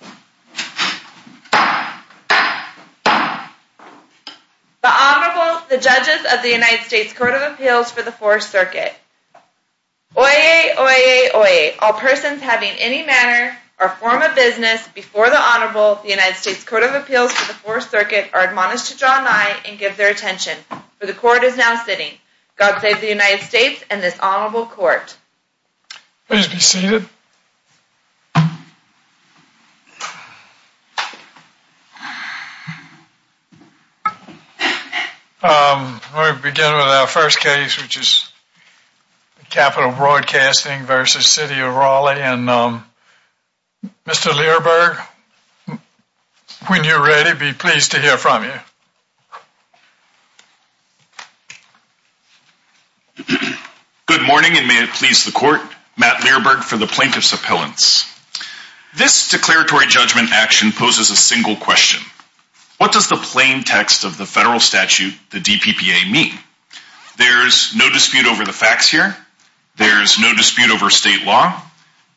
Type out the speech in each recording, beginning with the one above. The Honorable, the Judges of the United States Court of Appeals for the Fourth Circuit. Oyez, oyez, oyez, all persons having any manner or form of business before the Honorable, the United States Court of Appeals for the Fourth Circuit, are admonished to draw nigh and give their attention, for the Court is now sitting. God save the United States and this Honorable Court. Please be seated. We'll begin with our first case, which is Capital Broadcasting v. City of Raleigh. Mr. Learberg, when you're ready, be pleased to hear from you. Good morning, and may it please the Court. Matt Learberg for the Plaintiff's Appellants. This declaratory judgment action poses a single question. What does the plain text of the federal statute, the DPPA, mean? There's no dispute over the facts here. There's no dispute over state law.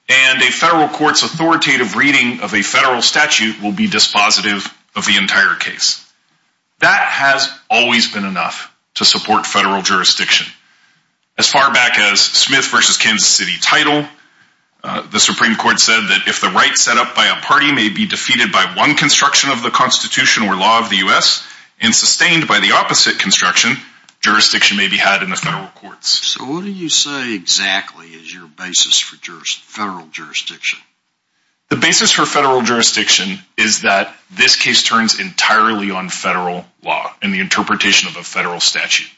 And a federal court's authoritative reading of a federal statute will be dispositive of the entire case. That has always been enough to support federal jurisdiction. As far back as Smith v. Kansas City Title, the Supreme Court said that if the right set up by a party may be defeated by one construction of the Constitution or law of the U.S. and sustained by the opposite construction, jurisdiction may be had in the federal courts. So what do you say exactly is your basis for federal jurisdiction? The basis for federal jurisdiction is that this case turns entirely on federal law and the interpretation of a federal statute.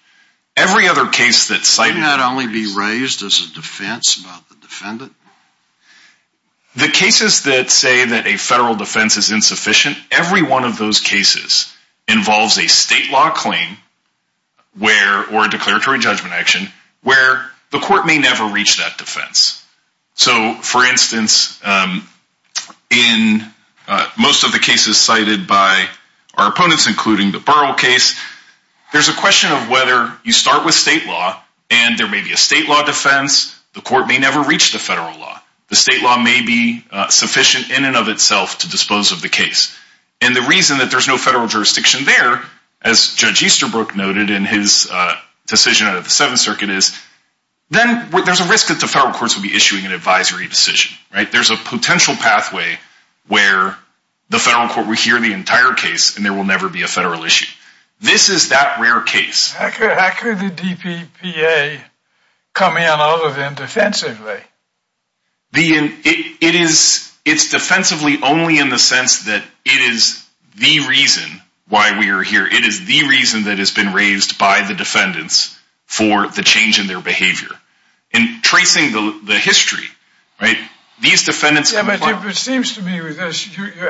Can that only be raised as a defense about the defendant? The cases that say that a federal defense is insufficient, every one of those cases involves a state law claim or a declaratory judgment action where the court may never reach that defense. So, for instance, in most of the cases cited by our opponents, including the Burrell case, there's a question of whether you start with state law and there may be a state law defense, the court may never reach the federal law. The state law may be sufficient in and of itself to dispose of the case. And the reason that there's no federal jurisdiction there, as Judge Easterbrook noted in his decision out of the Seventh Circuit, is then there's a risk that the federal courts will be issuing an advisory decision. There's a potential pathway where the federal court will hear the entire case and there will never be a federal issue. This is that rare case. How could the DPPA come in all of them defensively? It's defensively only in the sense that it is the reason why we are here. It is the reason that has been raised by the defendants for the change in their behavior. In tracing the history, these defendants... You're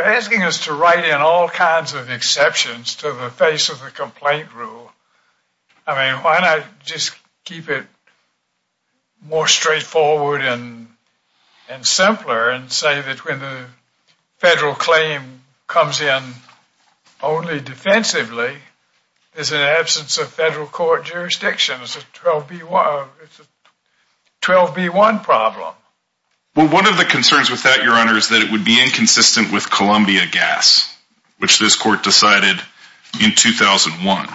asking us to write in all kinds of exceptions to the face of the complaint rule. I mean, why not just keep it more straightforward and simpler and say that when the federal claim comes in only defensively, there's an absence of federal court jurisdiction. It's a 12B1 problem. Well, one of the concerns with that, Your Honor, is that it would be inconsistent with Columbia Gas, which this court decided in 2001.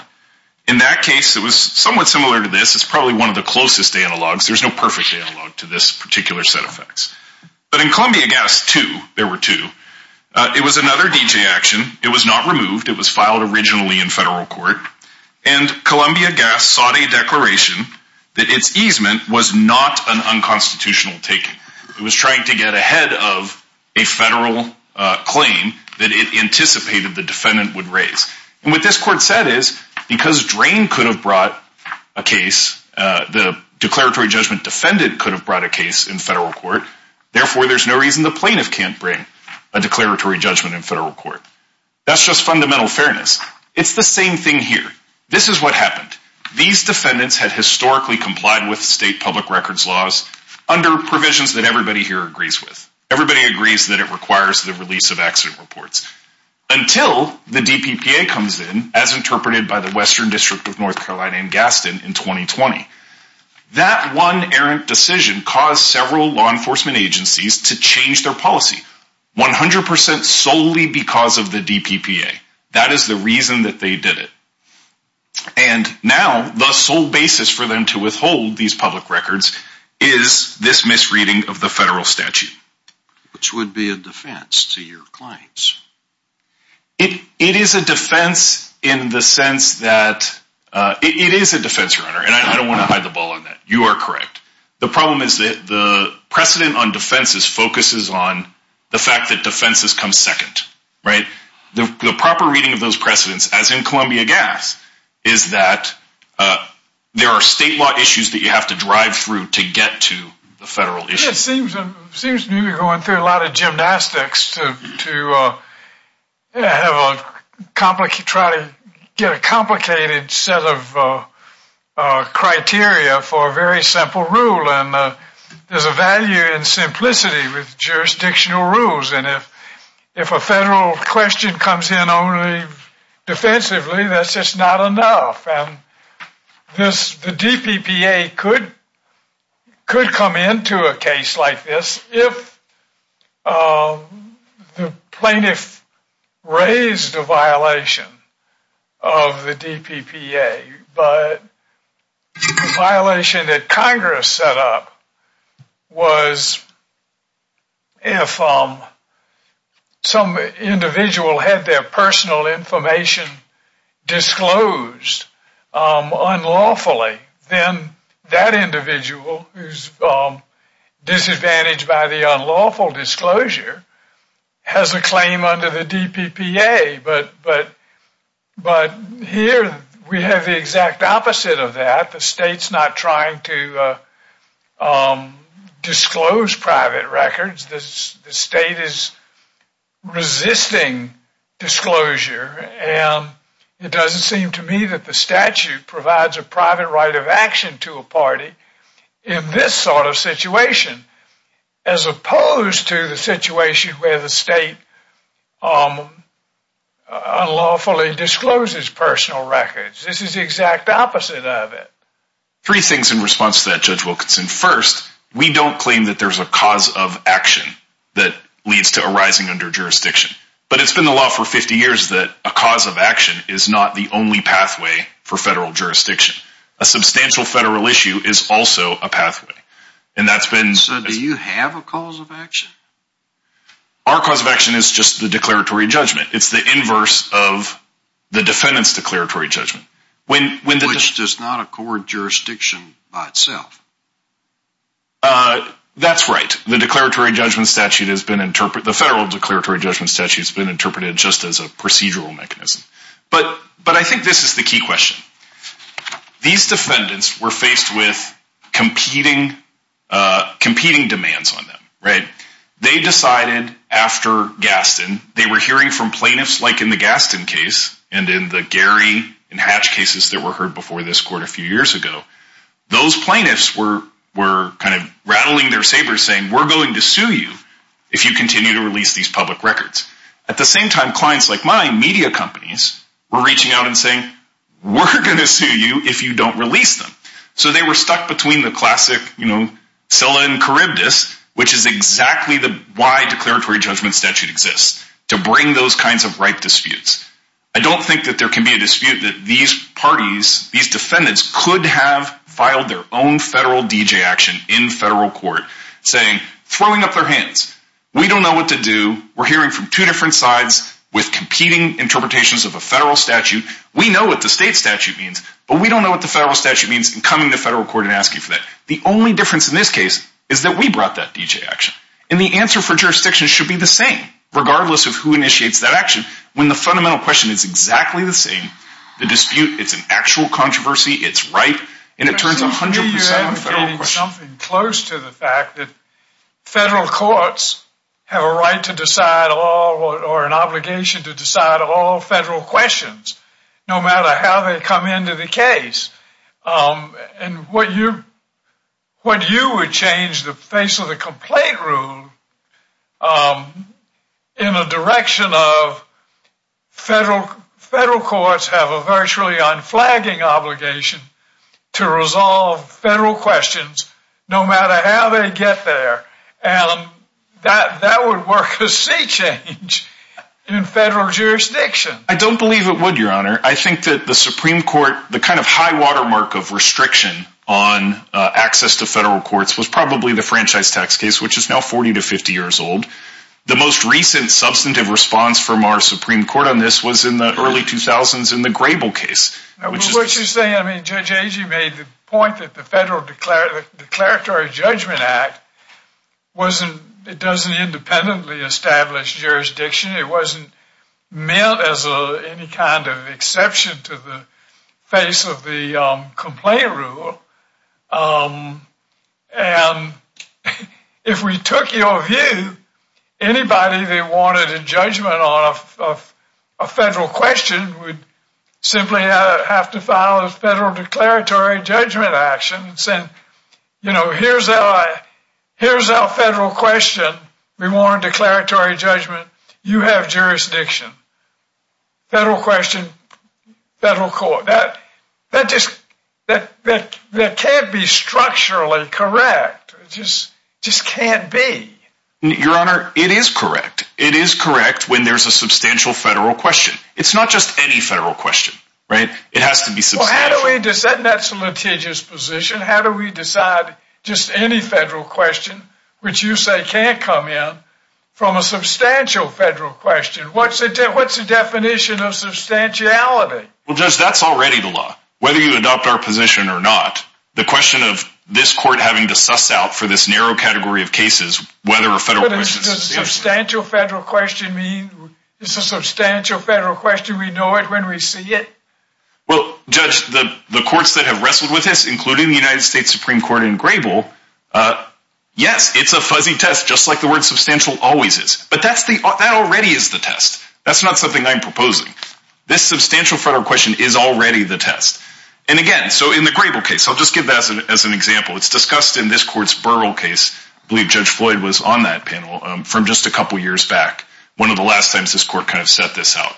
In that case, it was somewhat similar to this. It's probably one of the closest analogs. There's no perfect analog to this particular set of facts. But in Columbia Gas 2, there were two. It was another D.J. action. It was not removed. It was filed originally in federal court. And Columbia Gas sought a declaration that its easement was not an unconstitutional taking. It was trying to get ahead of a federal claim that it anticipated the defendant would raise. And what this court said is, because Drain could have brought a case, the declaratory judgment defendant could have brought a case in federal court, therefore, there's no reason the plaintiff can't bring a declaratory judgment in federal court. That's just fundamental fairness. It's the same thing here. This is what happened. These defendants had historically complied with state public records laws under provisions that everybody here agrees with. Everybody agrees that it requires the release of accident reports until the DPPA comes in, as interpreted by the Western District of North Carolina in Gaston in 2020. That one errant decision caused several law enforcement agencies to change their policy 100% solely because of the DPPA. That is the reason that they did it. And now, the sole basis for them to withhold these public records is this misreading of the federal statute. Which would be a defense to your claims. It is a defense in the sense that it is a defense runner, and I don't want to hide the ball on that. You are correct. The problem is that the precedent on defenses focuses on the fact that defenses come second. The proper reading of those precedents, as in Columbia Gas, is that there are state law issues that you have to drive through to get to the federal issues. It seems to me we are going through a lot of gymnastics to try to get a complicated set of criteria for a very simple rule. There is a value in simplicity with jurisdictional rules, and if a federal question comes in only defensively, that is just not enough. The DPPA could come into a case like this if the plaintiff raised a violation of the DPPA. But the violation that Congress set up was if some individual had their personal information disclosed unlawfully, then that individual who is disadvantaged by the unlawful disclosure has a claim under the DPPA. But here we have the exact opposite of that. The state is not trying to disclose private records. The state is resisting disclosure, and it doesn't seem to me that the statute provides a private right of action to a party in this sort of situation, as opposed to the situation where the state unlawfully discloses personal records. This is the exact opposite of it. Three things in response to that, Judge Wilkinson. First, we don't claim that there is a cause of action that leads to arising under jurisdiction. But it's been the law for 50 years that a cause of action is not the only pathway for federal jurisdiction. A substantial federal issue is also a pathway. So do you have a cause of action? Our cause of action is just the declaratory judgment. It's the inverse of the defendant's declaratory judgment. Which does not accord jurisdiction by itself. That's right. The federal declaratory judgment statute has been interpreted just as a procedural mechanism. But I think this is the key question. These defendants were faced with competing demands on them, right? They decided after Gaston, they were hearing from plaintiffs like in the Gaston case and in the Gary and Hatch cases that were heard before this court a few years ago. Those plaintiffs were kind of rattling their sabers saying, we're going to sue you if you continue to release these public records. At the same time, clients like mine, media companies, were reaching out and saying, we're going to sue you if you don't release them. So they were stuck between the classic, you know, Scylla and Charybdis, which is exactly why the declaratory judgment statute exists. To bring those kinds of right disputes. I don't think that there can be a dispute that these parties, these defendants, could have filed their own federal DJ action in federal court. Saying, throwing up their hands, we don't know what to do. We're hearing from two different sides with competing interpretations of a federal statute. We know what the state statute means, but we don't know what the federal statute means in coming to federal court and asking for that. The only difference in this case is that we brought that DJ action. And the answer for jurisdictions should be the same, regardless of who initiates that action. When the fundamental question is exactly the same, the dispute, it's an actual controversy, it's right, and it turns 100% federal question. It's something close to the fact that federal courts have a right to decide or an obligation to decide all federal questions, no matter how they come into the case. And what you would change the face of the complaint rule in a direction of federal courts have a virtually unflagging obligation to resolve federal questions, no matter how they get there. And that would work as sea change in federal jurisdictions. I don't believe it would, your honor. I think that the Supreme Court, the kind of high watermark of restriction on access to federal courts was probably the franchise tax case, which is now 40 to 50 years old. The most recent substantive response from our Supreme Court on this was in the early 2000s in the Grable case. What you're saying, I mean, Judge Agee made the point that the Federal Declaratory Judgment Act wasn't, it doesn't independently establish jurisdiction. It wasn't meant as any kind of exception to the face of the complaint rule. And if we took your view, anybody that wanted a judgment on a federal question would simply have to file a federal declaratory judgment action and say, you know, here's our federal question. We want a declaratory judgment. You have jurisdiction. Federal question, federal court. That just can't be structurally correct. It just can't be. Your honor, it is correct. It is correct when there's a substantial federal question. It's not just any federal question, right? It has to be substantial. Well, how do we decide? That's a litigious position. How do we decide just any federal question which you say can't come in from a substantial federal question? What's the definition of substantiality? Well, Judge, that's already the law. Whether you adopt our position or not, the question of this court having to suss out for this narrow category of cases, whether a federal question is... But does a substantial federal question mean it's a substantial federal question, we know it when we see it? Well, Judge, the courts that have wrestled with this, including the United States Supreme Court in Grebel, yes, it's a fuzzy test, just like the word substantial always is. But that already is the test. That's not something I'm proposing. This substantial federal question is already the test. And again, so in the Grebel case, I'll just give that as an example. It's discussed in this court's Burrill case. I believe Judge Floyd was on that panel from just a couple years back, one of the last times this court kind of set this out.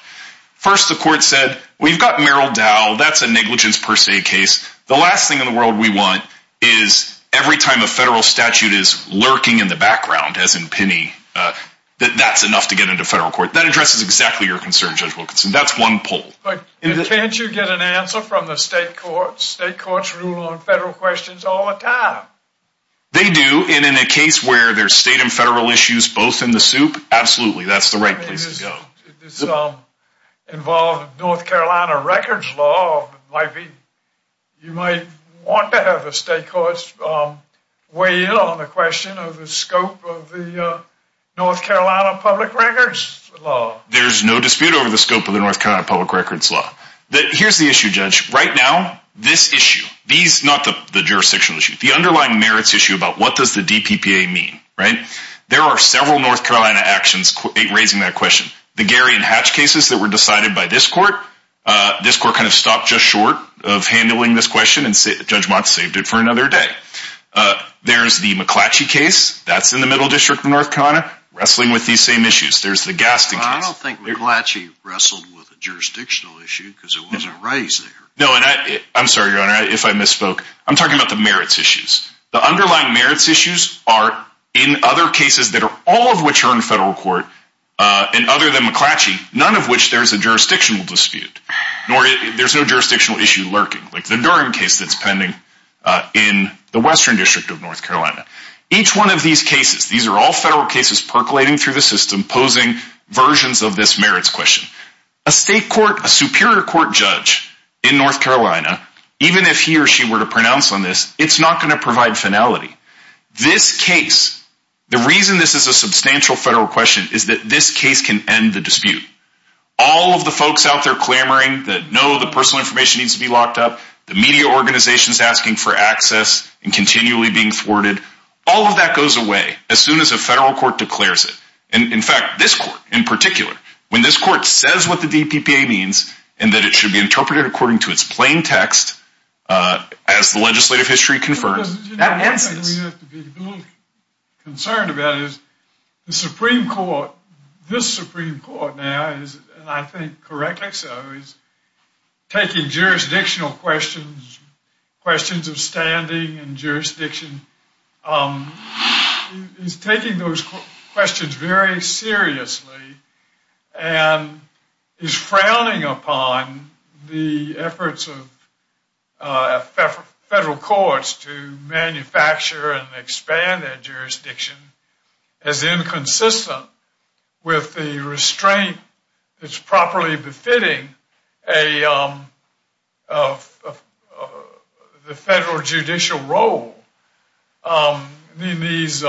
First, the court said, we've got Merrill Dowell. That's a negligence per se case. The last thing in the world we want is every time a federal statute is lurking in the background, as in Penny, that that's enough to get into federal court. That addresses exactly your concern, Judge Wilkinson. That's one poll. But can't you get an answer from the state courts? State courts rule on federal questions all the time. They do. And in a case where there's state and federal issues both in the soup, absolutely, that's the right place to go. This involved North Carolina records law. You might want to have the state courts weigh in on the question of the scope of the North Carolina public records law. There's no dispute over the scope of the North Carolina public records law. Here's the issue, Judge. Right now, this issue, not the jurisdictional issue, the underlying merits issue about what does the DPPA mean. There are several North Carolina actions raising that question. The Gary and Hatch cases that were decided by this court, this court kind of stopped just short of handling this question and Judge Mott saved it for another day. There's the McClatchy case. That's in the middle district of North Carolina wrestling with these same issues. There's the Gaston case. I don't think McClatchy wrestled with a jurisdictional issue because it wasn't raised there. No, and I'm sorry, Your Honor, if I misspoke. I'm talking about the merits issues. The underlying merits issues are in other cases that are all of which are in federal court and other than McClatchy, none of which there's a jurisdictional dispute. There's no jurisdictional issue lurking, like the Durham case that's pending in the western district of North Carolina. Each one of these cases, these are all federal cases percolating through the system, posing versions of this merits question. A state court, a superior court judge in North Carolina, even if he or she were to pronounce on this, it's not going to provide finality. This case, the reason this is a substantial federal question is that this case can end the dispute. All of the folks out there clamoring that no, the personal information needs to be locked up, the media organizations asking for access and continually being thwarted, all of that goes away as soon as a federal court declares it. In fact, this court in particular, when this court says what the DPPA means and that it should be interpreted according to its plain text as the legislative history confers, that ends it. One thing we have to be a little concerned about is the Supreme Court, this Supreme Court now, and I think correctly so, is taking jurisdictional questions, questions of standing and jurisdiction, is taking those questions very seriously and is frowning upon the efforts of federal courts to manufacture and expand their jurisdiction as inconsistent with the restraint that's properly befitting the federal judicial role. These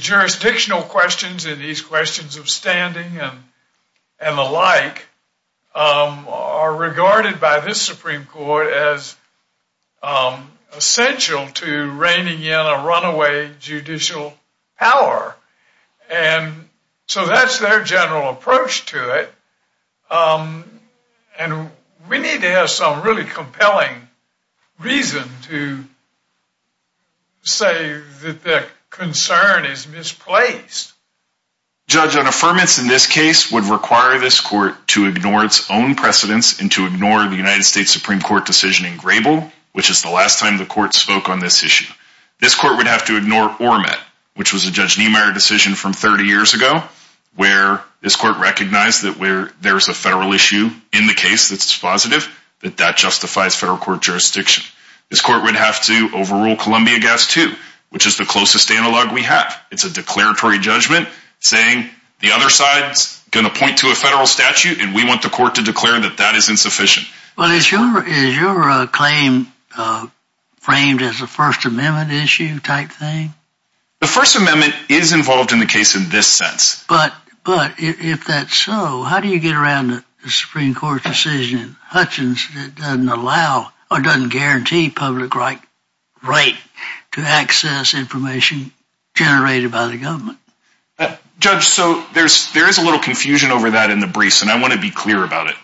jurisdictional questions and these questions of standing and the like are regarded by this Supreme Court as essential to reigning in a runaway judicial power. And so that's their general approach to it, and we need to have some really compelling reason to say that their concern is misplaced. Judge, an affirmance in this case would require this court to ignore its own precedence and to ignore the United States Supreme Court decision in Grable, which is the last time the court spoke on this issue. This court would have to ignore Ormet, which was a Judge Niemeyer decision from 30 years ago, where this court recognized that where there's a federal issue in the case that's positive, that that justifies federal court jurisdiction. This court would have to overrule Columbia Gas 2, which is the closest analog we have. It's a declaratory judgment saying the other side's going to point to a federal statute, and we want the court to declare that that is insufficient. Well, is your claim framed as a First Amendment issue type thing? The First Amendment is involved in the case in this sense. But if that's so, how do you get around the Supreme Court decision in Hutchins that doesn't allow or doesn't guarantee public right to access information generated by the government? Judge, so there is a little confusion over that in the briefs, and I want to be clear about it.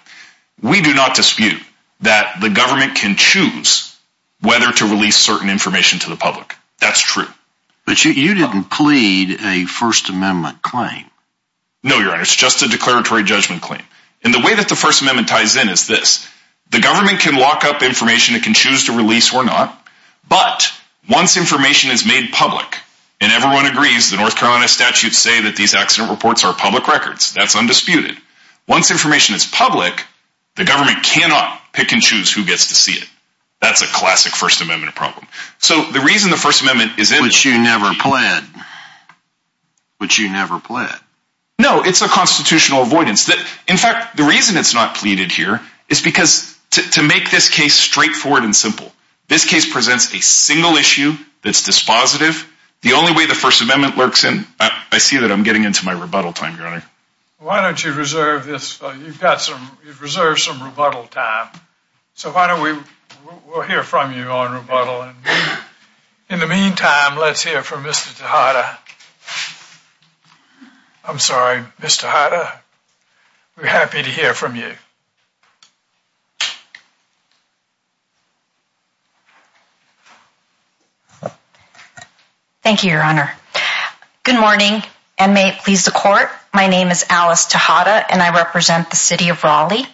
We do not dispute that the government can choose whether to release certain information to the public. That's true. But you didn't plead a First Amendment claim. No, Your Honor. It's just a declaratory judgment claim. And the way that the First Amendment ties in is this. The government can lock up information it can choose to release or not, but once information is made public and everyone agrees the North Carolina statutes say that these accident reports are public records, that's undisputed. Once information is public, the government cannot pick and choose who gets to see it. That's a classic First Amendment problem. But you never plead. No, it's a constitutional avoidance. In fact, the reason it's not pleaded here is to make this case straightforward and simple. This case presents a single issue that's dispositive. The only way the First Amendment works, and I see that I'm getting into my rebuttal time, Your Honor. Why don't you reserve some rebuttal time. So why don't we hear from you on rebuttal. In the meantime, let's hear from Mr. Tejada. I'm sorry, Mr. Tejada. We're happy to hear from you. Thank you, Your Honor. Good morning and may it please the court. My name is Alice Tejada and I represent the city of Raleigh.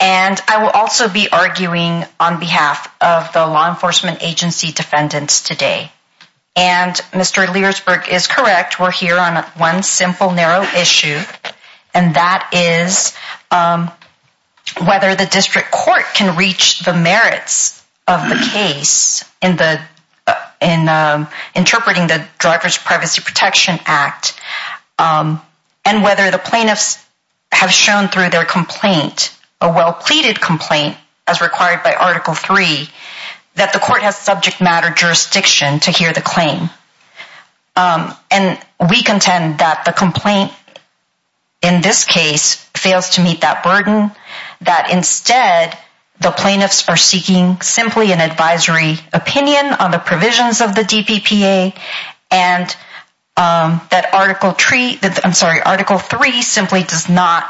And I will also be arguing on behalf of the law enforcement agency defendants today. And Mr. Leersburg is correct. We're here on one simple, narrow issue, and that is whether the district court can reach the merits of the case in interpreting the Driver's Privacy Protection Act. And whether the plaintiffs have shown through their complaint, a well pleaded complaint as required by Article 3, that the court has subject matter jurisdiction to hear the claim. And we contend that the complaint in this case fails to meet that burden, that instead the plaintiffs are seeking simply an advisory opinion on the provisions of the DPPA and that Article 3 simply does not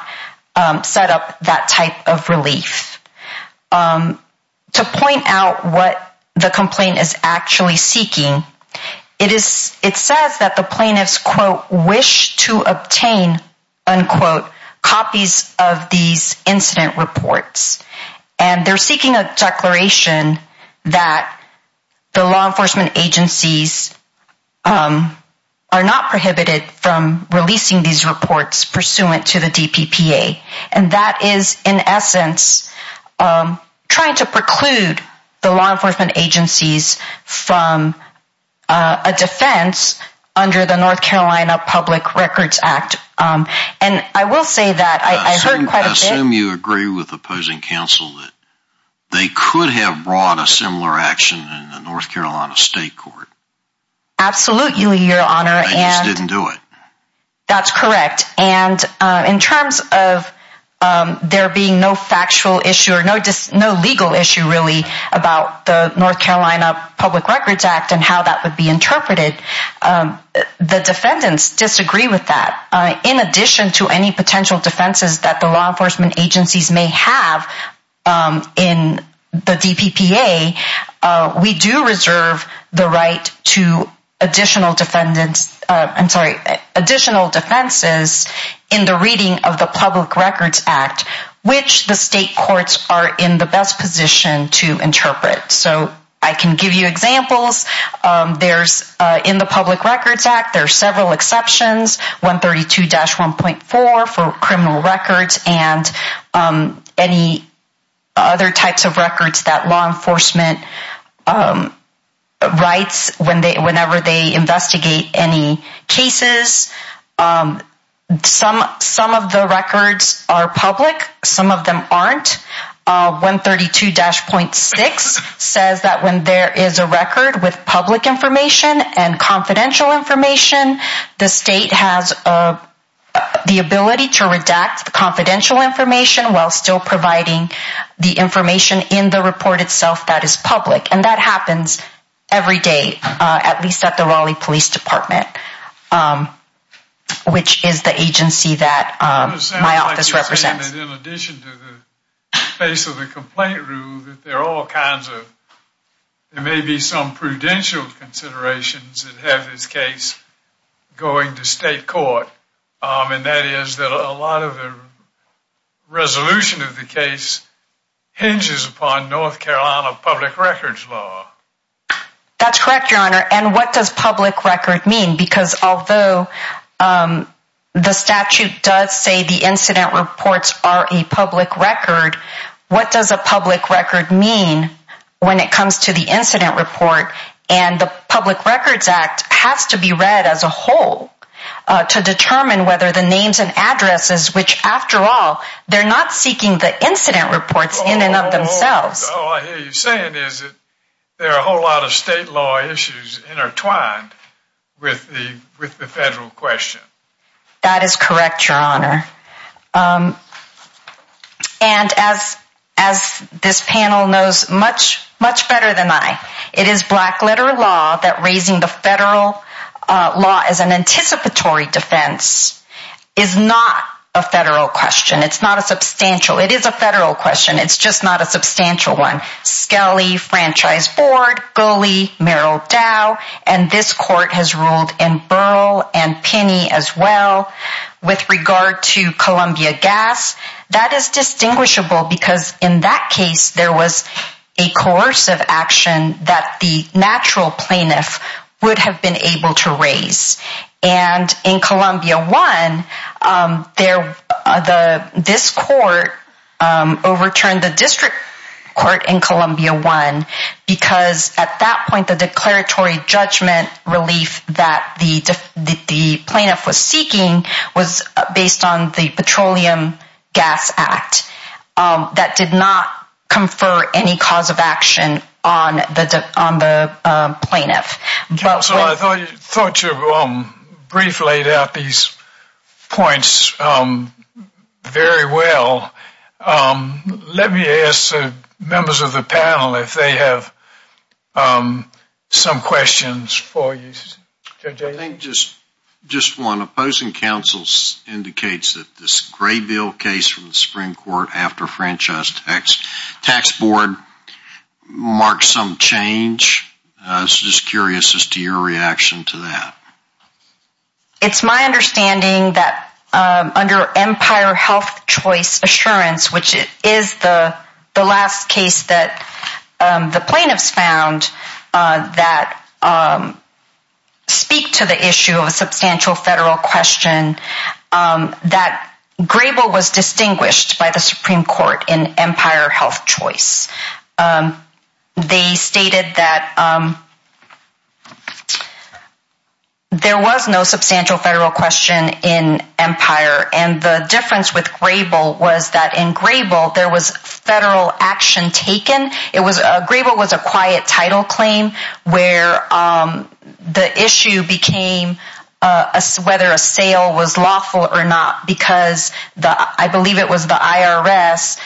set up that type of relief. To point out what the complaint is actually seeking, it says that the plaintiffs, quote, wish to obtain, unquote, copies of these incident reports. And they're seeking a declaration that the law enforcement agencies are not prohibited from releasing these reports pursuant to the DPPA. And that is, in essence, trying to preclude the law enforcement agencies from a defense under the North Carolina Public Records Act. I assume you agree with opposing counsel that they could have brought a similar action in the North Carolina State Court. Absolutely, Your Honor. They just didn't do it. That's correct. And in terms of there being no factual issue or no legal issue really about the North Carolina Public Records Act and how that would be interpreted, the defendants disagree with that. In addition to any potential defenses that the law enforcement agencies may have in the DPPA, we do reserve the right to additional defenses in the reading of the Public Records Act, which the state courts are in the best position to interpret. So I can give you examples. In the Public Records Act, there are several exceptions, 132-1.4 for criminal records and any other types of records that law enforcement writes whenever they investigate any cases. Some of the records are public. Some of them aren't. 132-1.6 says that when there is a record with public information and confidential information, the state has the ability to redact the confidential information while still providing the information in the report itself that is public. And that happens every day, at least at the Raleigh Police Department, which is the agency that my office represents. In addition to the case of the complaint rule, there may be some prudential considerations that have this case going to state court, and that is that a lot of the resolution of the case hinges upon North Carolina public records law. That's correct, Your Honor. And what does public record mean? Because although the statute does say the incident reports are a public record, what does a public record mean when it comes to the incident report? And the Public Records Act has to be read as a whole to determine whether the names and addresses, which after all, they're not seeking the incident reports in and of themselves. All I hear you saying is that there are a whole lot of state law issues intertwined with the federal question. That is correct, Your Honor. And as this panel knows much better than I, it is black letter law that raising the federal law as an anticipatory defense is not a federal question. It's not a substantial. It is a federal question. It's just not a substantial one. Skelly, Franchise Board, Goley, Merrill Dow, and this court has ruled in Burl and Pinney as well. With regard to Columbia Gas, that is distinguishable because in that case, there was a coercive action that the natural plaintiff would have been able to raise. And in Columbia One, this court overturned the district court in Columbia One because at that point, the declaratory judgment relief that the plaintiff was seeking was based on the Petroleum Gas Act. That did not confer any cause of action on the plaintiff. Counsel, I thought you briefly laid out these points very well. Let me ask the members of the panel if they have some questions for you. I think just one opposing counsel indicates that this Grayville case from the Supreme Court after Franchise Tax Board marked some change. I was just curious as to your reaction to that. It's my understanding that under Empire Health Choice Assurance, which is the last case that the plaintiffs found that speak to the issue of a substantial federal question, that Grayville was distinguished by the Supreme Court in Empire Health Choice. They stated that there was no substantial federal question in Empire and the difference with Grayville was that in Grayville, there was federal action taken. Grayville was a quiet title claim where the issue became whether a sale was lawful or not because I believe it was the IRS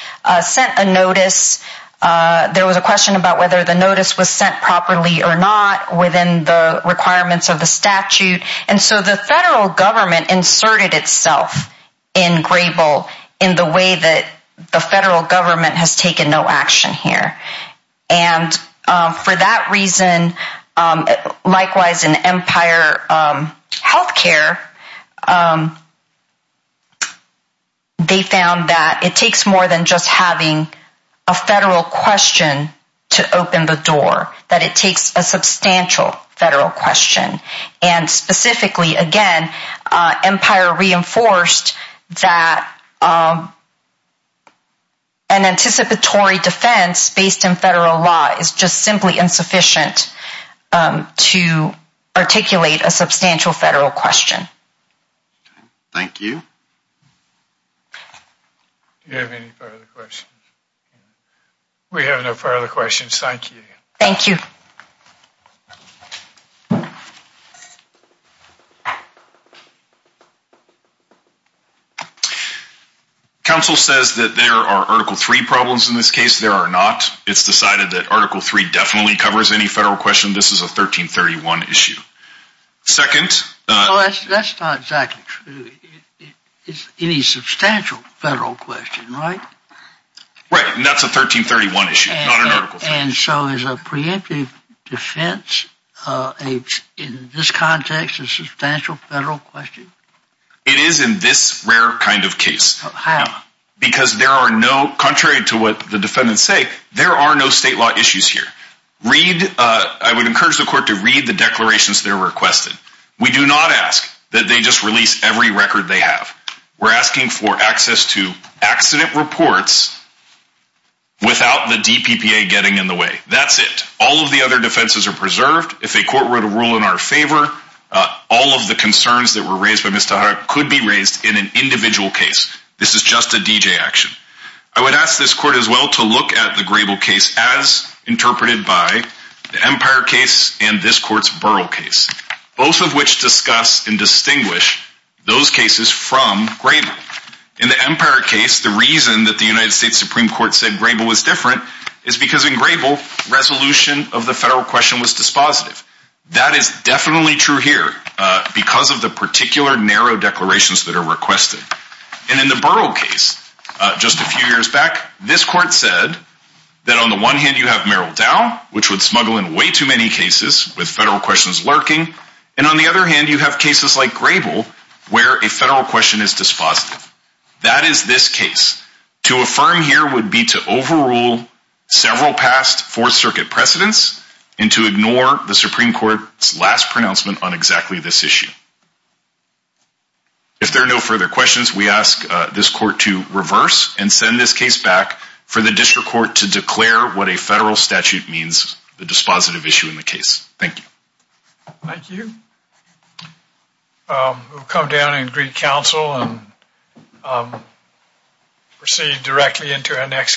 sent a notice. There was a question about whether the notice was sent properly or not within the requirements of the statute. The federal government inserted itself in Grayville in the way that the federal government has taken no action here. For that reason, likewise in Empire Health Care, they found that it takes more than just having a federal question to open the door. That it takes a substantial federal question and specifically again, Empire reinforced that an anticipatory defense based in federal law is just simply insufficient to articulate a substantial federal question. Thank you. Do you have any further questions? We have no further questions. Thank you. Thank you. Council says that there are Article 3 problems in this case. There are not. It's decided that Article 3 definitely covers any federal question. This is a 1331 issue. That's not exactly true. It's any substantial federal question, right? Right, and that's a 1331 issue, not an Article 3. And so is a preemptive defense in this context a substantial federal question? It is in this rare kind of case. How? Because there are no, contrary to what the defendants say, there are no state law issues here. Read, I would encourage the court to read the declarations that are requested. We do not ask that they just release every record they have. We're asking for access to accident reports without the DPPA getting in the way. That's it. All of the other defenses are preserved. If a court were to rule in our favor, all of the concerns that were raised by Mr. Hart could be raised in an individual case. This is just a DJ action. I would ask this court as well to look at the Grable case as interpreted by the Empire case and this court's Burrell case, both of which discuss and distinguish those cases from Grable. In the Empire case, the reason that the United States Supreme Court said Grable was different is because in Grable, resolution of the federal question was dispositive. That is definitely true here because of the particular narrow declarations that are requested. And in the Burrell case, just a few years back, this court said that on the one hand, you have Merrill Dow, which would smuggle in way too many cases with federal questions lurking. And on the other hand, you have cases like Grable where a federal question is dispositive. That is this case. To affirm here would be to overrule several past Fourth Circuit precedents and to ignore the Supreme Court's last pronouncement on exactly this issue. If there are no further questions, we ask this court to reverse and send this case back for the district court to declare what a federal statute means, the dispositive issue in the case. Thank you. Thank you. We'll come down and greet counsel and proceed directly into our next case.